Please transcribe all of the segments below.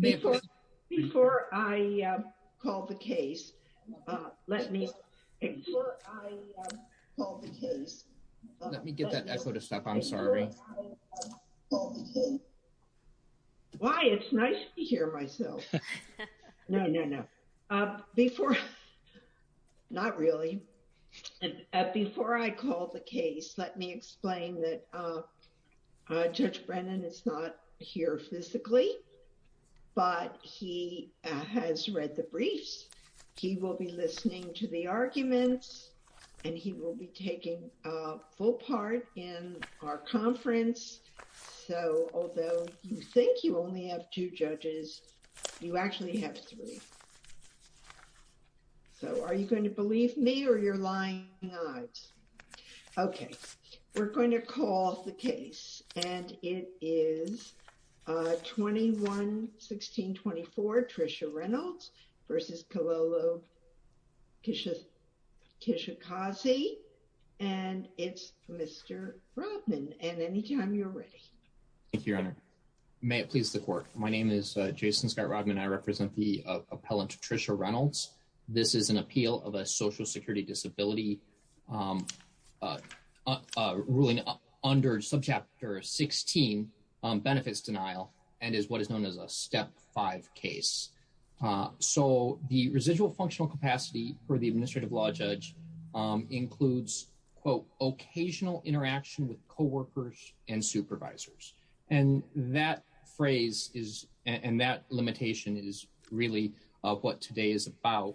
Before I call the case, let me explain that Judge Brennan is not here physically, but he has read the briefs, he will be listening to the arguments, and he will be taking full part in our conference. So although you think you only have two judges, you actually have three. So are you going to believe me or you're lying? Okay, we're going to go ahead and call the case. The first case is 21-16-24, Trisha Reynolds v. Kilolo Kijakazi. And it's Mr. Rodman. And anytime you're ready. Thank you, Your Honor. May it please the court. My name is Jason Scott Rodman. I represent the appellant Trisha Reynolds. This is an appeal of a social security disability ruling under subchapter 16, benefits denial, and is what is known as a step five case. So the residual functional capacity for the administrative law judge includes, quote, occasional interaction with coworkers and supervisors. And that phrase is, and that limitation is really what today is about,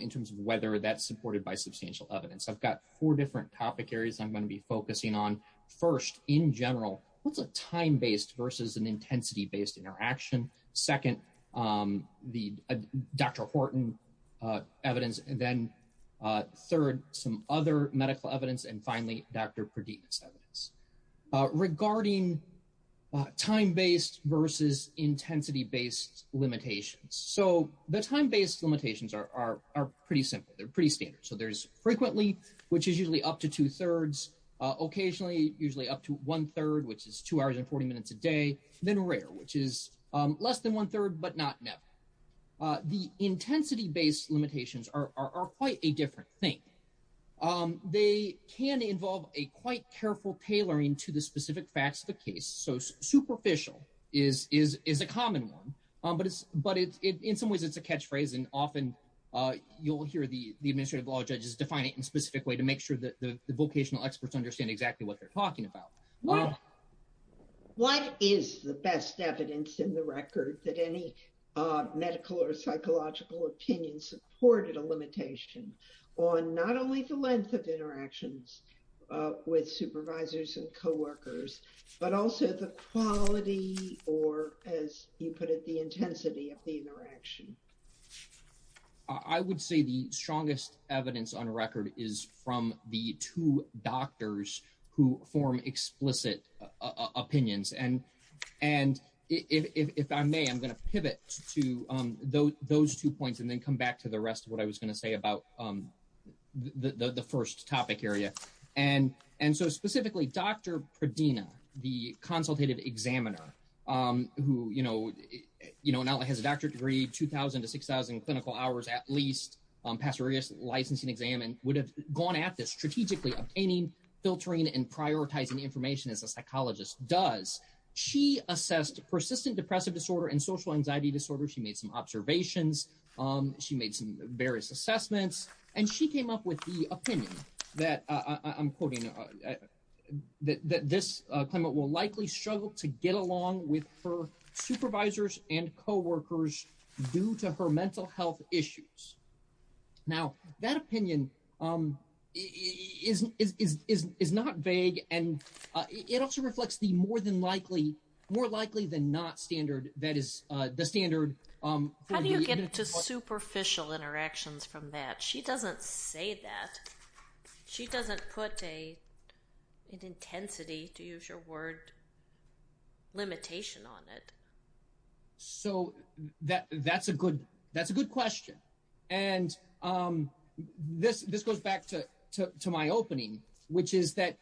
in terms of whether that's supported by substantial evidence. I've got four different topic areas I'm going to be focusing on. First, in general, what's a time-based versus an intensity-based interaction? Second, the Dr. Horton evidence. And then third, some other medical evidence. And finally, Dr. Perdita's evidence. Regarding time-based versus intensity-based limitations. So the time-based limitations are pretty simple. They're pretty standard. So there's frequently, which is usually up to two-thirds. Occasionally, usually up to one-third, which is two hours and 40 minutes a day. Then rare, which is less than one-third, but not never. The intensity-based limitations are quite a different thing. They can involve a quite careful tailoring to the specific facts of the case. So superficial is a common one. But in some ways, it's a catchphrase. And often, you'll hear the administrative law judges define it in a specific way to make sure that the vocational experts understand exactly what they're talking about. What is the best evidence in the record that any medical or psychological opinion supported a limitation on not only the length of interactions with supervisors and coworkers, but also the quality or, as you put it, the intensity of the interaction? I would say the strongest evidence on record is from the two doctors who form explicit opinions. And if I may, I'm going to pivot to those two points and then come back to the rest of what I was going to say about the first topic area. And so specifically, Dr. Perdita, the consultative examiner, who not only has a doctorate degree, 2,000 to 6,000 clinical hours at least, passed various licensing exams, and would have gone at this strategically obtaining, filtering, and prioritizing information as a psychologist does. She assessed persistent depressive disorder and social anxiety disorder. She made some observations. She made some various will likely struggle to get along with her supervisors and coworkers due to her mental health issues. Now, that opinion is not vague, and it also reflects the more than likely, more likely than not standard that is the standard. How do you get to superficial interactions from that? She doesn't say that. She doesn't put an official word limitation on it. So that's a good question. And this goes back to my opening, which is that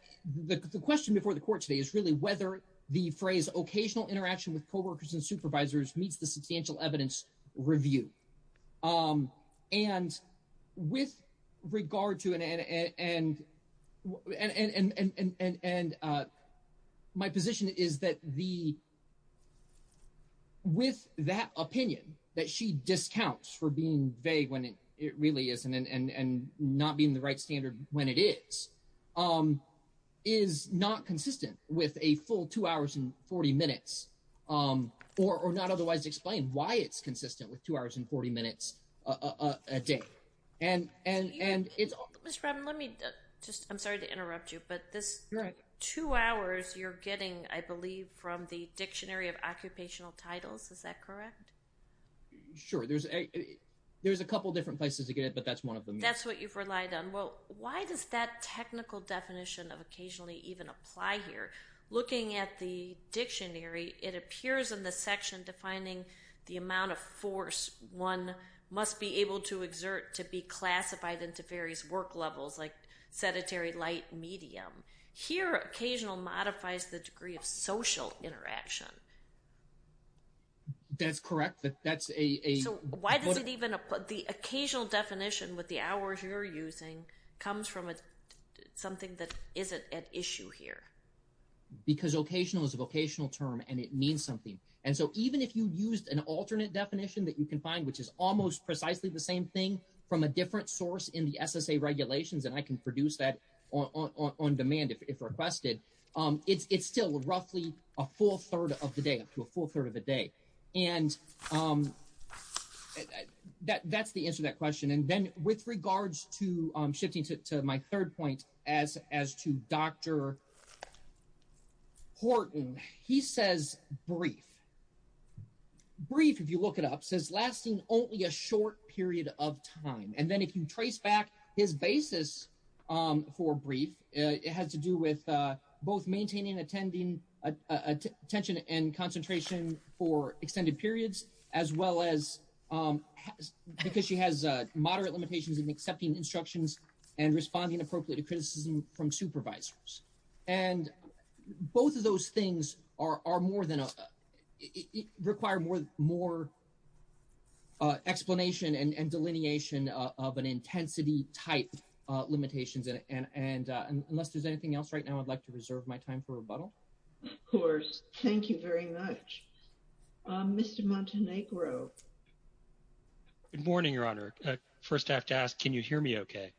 the question before the court today is really whether the phrase, occasional interaction with coworkers and supervisors meets the substantial evidence review. And my position is that with that opinion that she discounts for being vague when it really isn't and not being the right standard when it is, is not consistent with a full two hours and 40 minutes, or not otherwise explain why it's consistent with two hours and 40 minutes a day. Ms. Robin, let me just, I'm sorry to interrupt you, but this two hours you're getting, I believe from the dictionary of occupational titles, is that correct? Sure. There's a couple of different places to get it, but that's one of them. That's what you've relied on. Well, why does that technical definition of occasionally even apply here? Looking at the dictionary, it appears in the section defining the amount of force one must be able to exert to be classified into various work levels, like sedentary, light, medium. Here, occasional modifies the degree of social interaction. That's correct. That's a- So why does it even, the occasional definition with the hours you're using comes from something that isn't at issue here? Because occasional is a vocational term, and it means something. Even if you used an alternate definition that you can find, which is almost precisely the same thing from a different source in the SSA regulations, and I can produce that on demand if requested, it's still roughly a full third of the day, up to a full third of the day. That's the answer to that question. Then, with regards to shifting to my third point, as to Dr. Horton, he says brief. Brief, if you look it up, says lasting only a short period of time. Then, if you trace back his basis for brief, it has to do with both maintaining attention and concentration for extended periods, as well as because she has moderate limitations in accepting instructions and responding appropriately to criticism from supervisors. Both of those things are more than a- require more explanation and delineation of an intensity type limitations. Unless there's anything else right now, I'd like to reserve my time for rebuttal. Of course. Thank you very much. Mr. Montenegro. Good morning, Your Honor. First, I have to ask, can you hear me okay?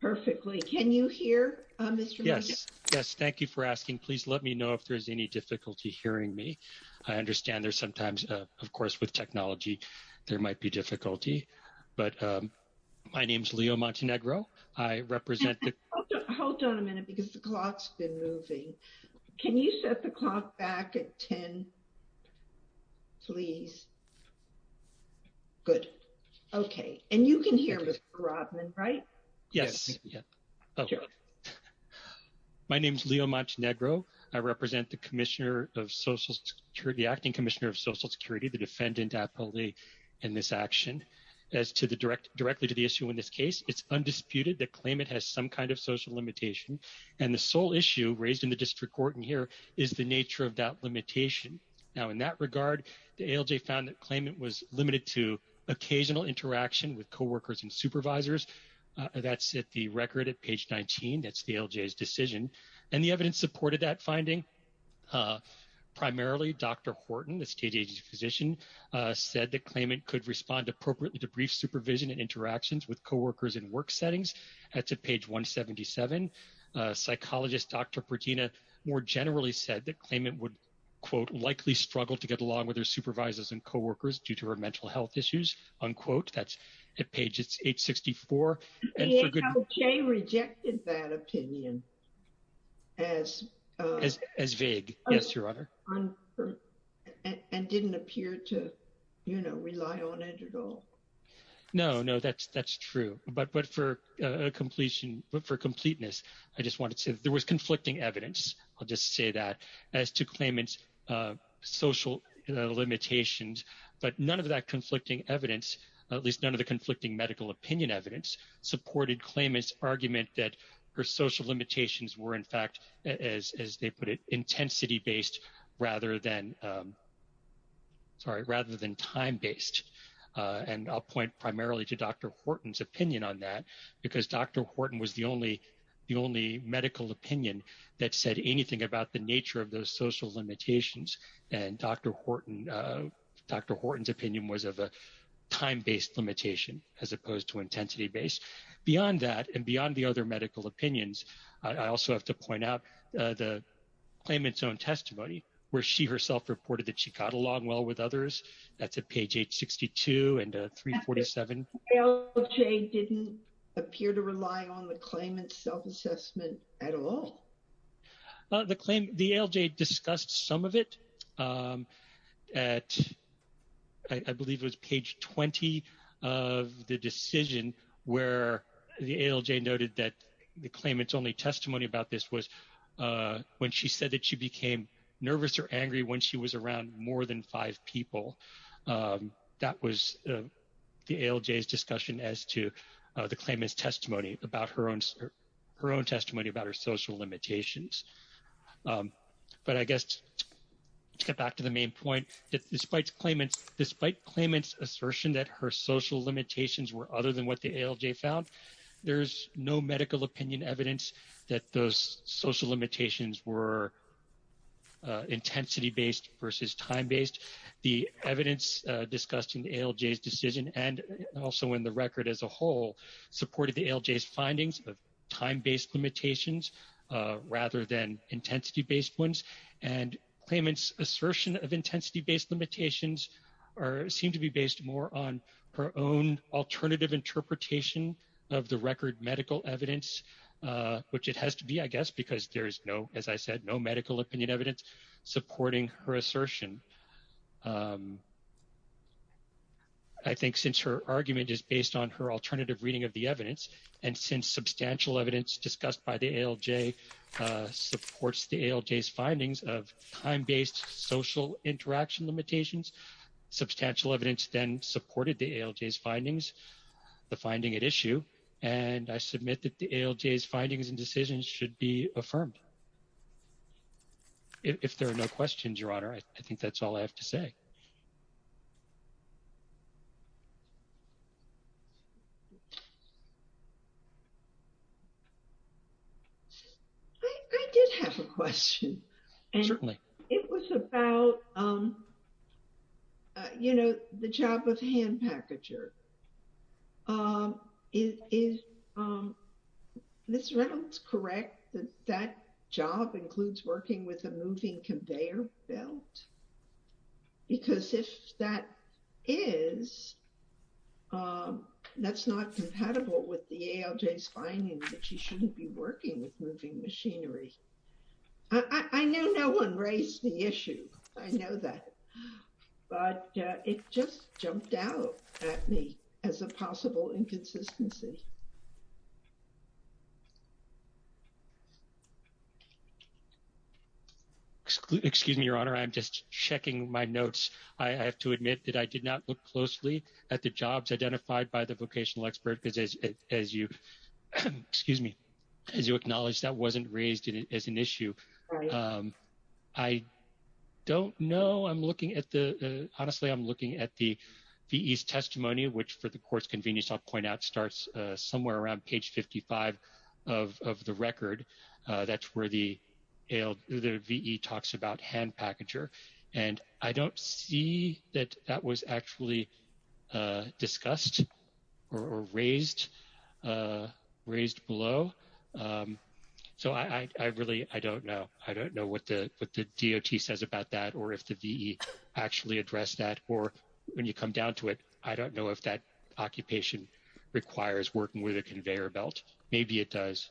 Perfectly. Can you hear Mr. Montenegro? Yes. Yes. Thank you for asking. Please let me know if there's any difficulty hearing me. I understand there's sometimes, of course, with technology, there might be difficulty, but my name's Leo Montenegro. I represent the- Please. Good. Okay. And you can hear Mr. Robman, right? Yes. My name's Leo Montenegro. I represent the Commissioner of Social Security, the Acting Commissioner of Social Security, the defendant appellee in this action. As to the direct- directly to the issue in this case, it's undisputed that claimant has some kind of social limitation. And the sole issue raised in the district court in here is the nature of that regard. The ALJ found that claimant was limited to occasional interaction with co-workers and supervisors. That's at the record at page 19. That's the ALJ's decision. And the evidence supported that finding. Primarily, Dr. Horton, the state agency physician, said that claimant could respond appropriately to brief supervision and interactions with co-workers in work settings. That's at page 177. Psychologist Dr. Pertina more generally said that claimant would, quote, likely struggle to get along with her supervisors and co-workers due to her mental health issues, unquote. That's at page 864. The ALJ rejected that opinion as- As vague. Yes, Your Honor. And didn't appear to, you know, rely on it at all. No, no, that's true. But for completion- for completeness, I just wanted to say there was claimant's social limitations, but none of that conflicting evidence, at least none of the conflicting medical opinion evidence, supported claimant's argument that her social limitations were, in fact, as they put it, intensity-based rather than- sorry, rather than time-based. And I'll point primarily to Dr. Horton's opinion on that, because Dr. Horton was the only medical opinion that said anything about the nature of those social limitations, and Dr. Horton- Dr. Horton's opinion was of a time-based limitation as opposed to intensity-based. Beyond that, and beyond the other medical opinions, I also have to point out the claimant's own testimony, where she herself reported that she got along well with others. That's at page 862 and 347. ALJ didn't appear to rely on the claimant's self-assessment at all. The claim- the ALJ discussed some of it at- I believe it was page 20 of the decision where the ALJ noted that the claimant's only testimony about this was when she said that she became nervous or angry when she was around more than five people. That was the ALJ's discussion as to the claimant's testimony about her own- her own testimony about her social limitations. But I guess to get back to the main point, that despite claimant's- despite claimant's assertion that her social limitations were other than what the ALJ found, there's no medical opinion evidence that those social limitations were intensity-based versus time-based. The evidence discussed in the ALJ's decision and also in the poll supported the ALJ's findings of time-based limitations rather than intensity-based ones. And claimant's assertion of intensity-based limitations are- seem to be based more on her own alternative interpretation of the record medical evidence, which it has to be, I guess, because there is no, as I said, no medical opinion evidence supporting her assertion. I think since her argument is based on her alternative reading of the evidence, and since substantial evidence discussed by the ALJ supports the ALJ's findings of time-based social interaction limitations, substantial evidence then supported the ALJ's findings, the finding at issue, and I submit that the ALJ's findings and decisions should be affirmed. If there are no questions, Your Honor, I think that's all I have to say. I did have a question. Certainly. It was about, you know, the job of hand packager. Is Ms. Reynolds correct that that job includes working with a moving conveyor belt? Because if that is, that's not compatible with the ALJ's findings that you shouldn't be working with moving machinery. I know no one raised the issue, I know that, but it just jumped out at me. As a possible inconsistency. Excuse me, Your Honor, I'm just checking my notes. I have to admit that I did not look closely at the jobs identified by the vocational expert, because as you, excuse me, as you acknowledged, that wasn't raised as an issue. I don't know. I'm looking at the, honestly, I'm looking at the VE's testimony, which for the court's convenience, I'll point out starts somewhere around page 55 of the record. That's where the VE talks about hand packager. And I don't see that that was actually discussed or raised below. So I really, I don't know. I don't know what the DOT says about that, or if the VE actually addressed that, or when you come down to it, I don't know if that occupation requires working with a conveyor belt. Maybe it does,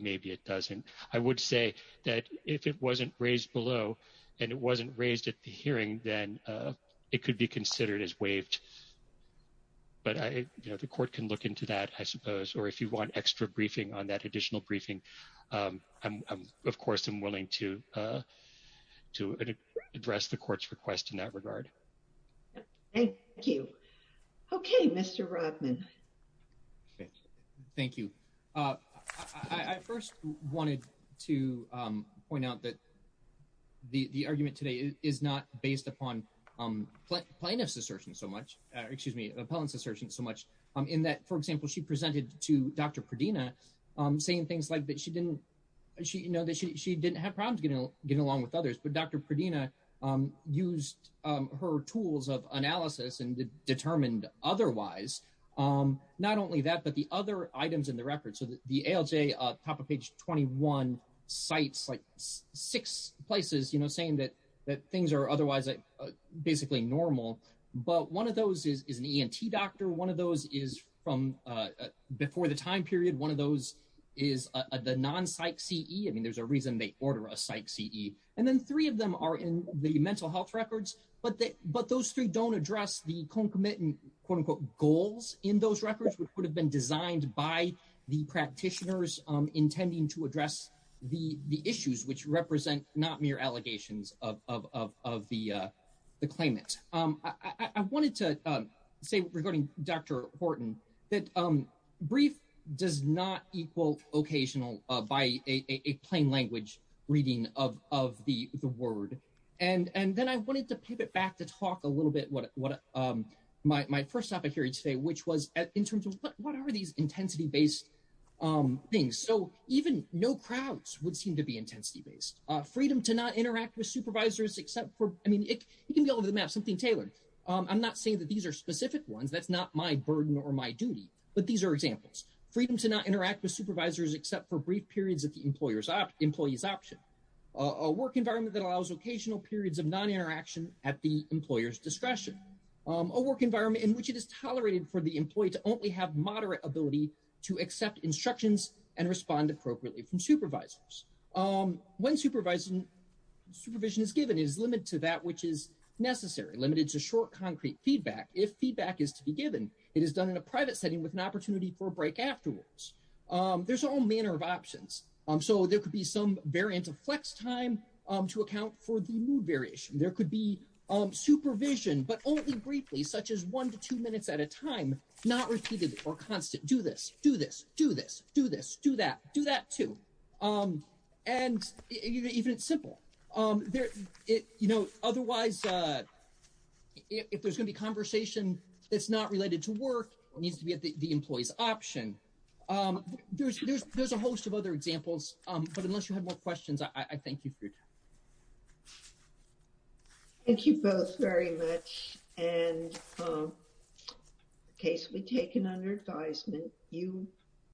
maybe it doesn't. I would say that if it wasn't raised below, and it wasn't raised at the hearing, then it could be considered as waived. But the court can look into that, I suppose, or if you want extra briefing on that additional to address the court's request in that regard. Thank you. Okay, Mr. Rodman. Thank you. I first wanted to point out that the argument today is not based upon plaintiff's assertion so much, excuse me, appellant's assertion so much, in that, for example, she presented to Dr. Pradina saying things like that she didn't have problems getting along with others, but Dr. Pradina used her tools of analysis and determined otherwise, not only that, but the other items in the record. So the ALJ, top of page 21, cites like six places saying that things are otherwise basically normal. But one of those is an ENT doctor. One of those is from before the time period. One of those is the non-psych CE. I mean, there's a reason they order a psych CE. And then three of them are in the mental health records. But those three don't address the concomitant, quote unquote, goals in those records, which would have been designed by the practitioners intending to address the issues which represent not mere allegations of the claimant. I wanted to say, regarding Dr. Horton, that brief does not equal occasional by a plain language reading of the word. And then I wanted to pivot back to talk a little bit what my first topic here today, which was in terms of what are these intensity-based things. So even no crowds would seem to be intensity-based. Freedom to not interact with supervisors, except for, I mean, you can go over the map, something tailored. I'm not saying that these are specific ones. That's not my burden or my duty. But these are examples. Freedom to not interact with supervisors, except for brief periods of the employee's option. A work environment that allows occasional periods of non-interaction at the employer's discretion. A work environment in which it is tolerated for the employee to only have moderate ability to accept instructions and respond appropriately from supervisors. When supervision is given, it is limited to that which is necessary, limited to short, concrete feedback. If feedback is to be given, it is done in a private setting with an opportunity for a break afterwards. There's all manner of options. So there could be some variant of flex time to account for the mood variation. There could be supervision, but only briefly, such as one to two minutes at a time, not repeated or constant. Do this. Do this. Do this. Do this. Do that. Do that, too. And even it's simple. Otherwise, if there's going to be conversation that's not related to work, it needs to be at the employee's option. There's a host of other examples, but unless you have more questions, I thank you for your time. Thank you both very much. And the case will be taken under advisement. You.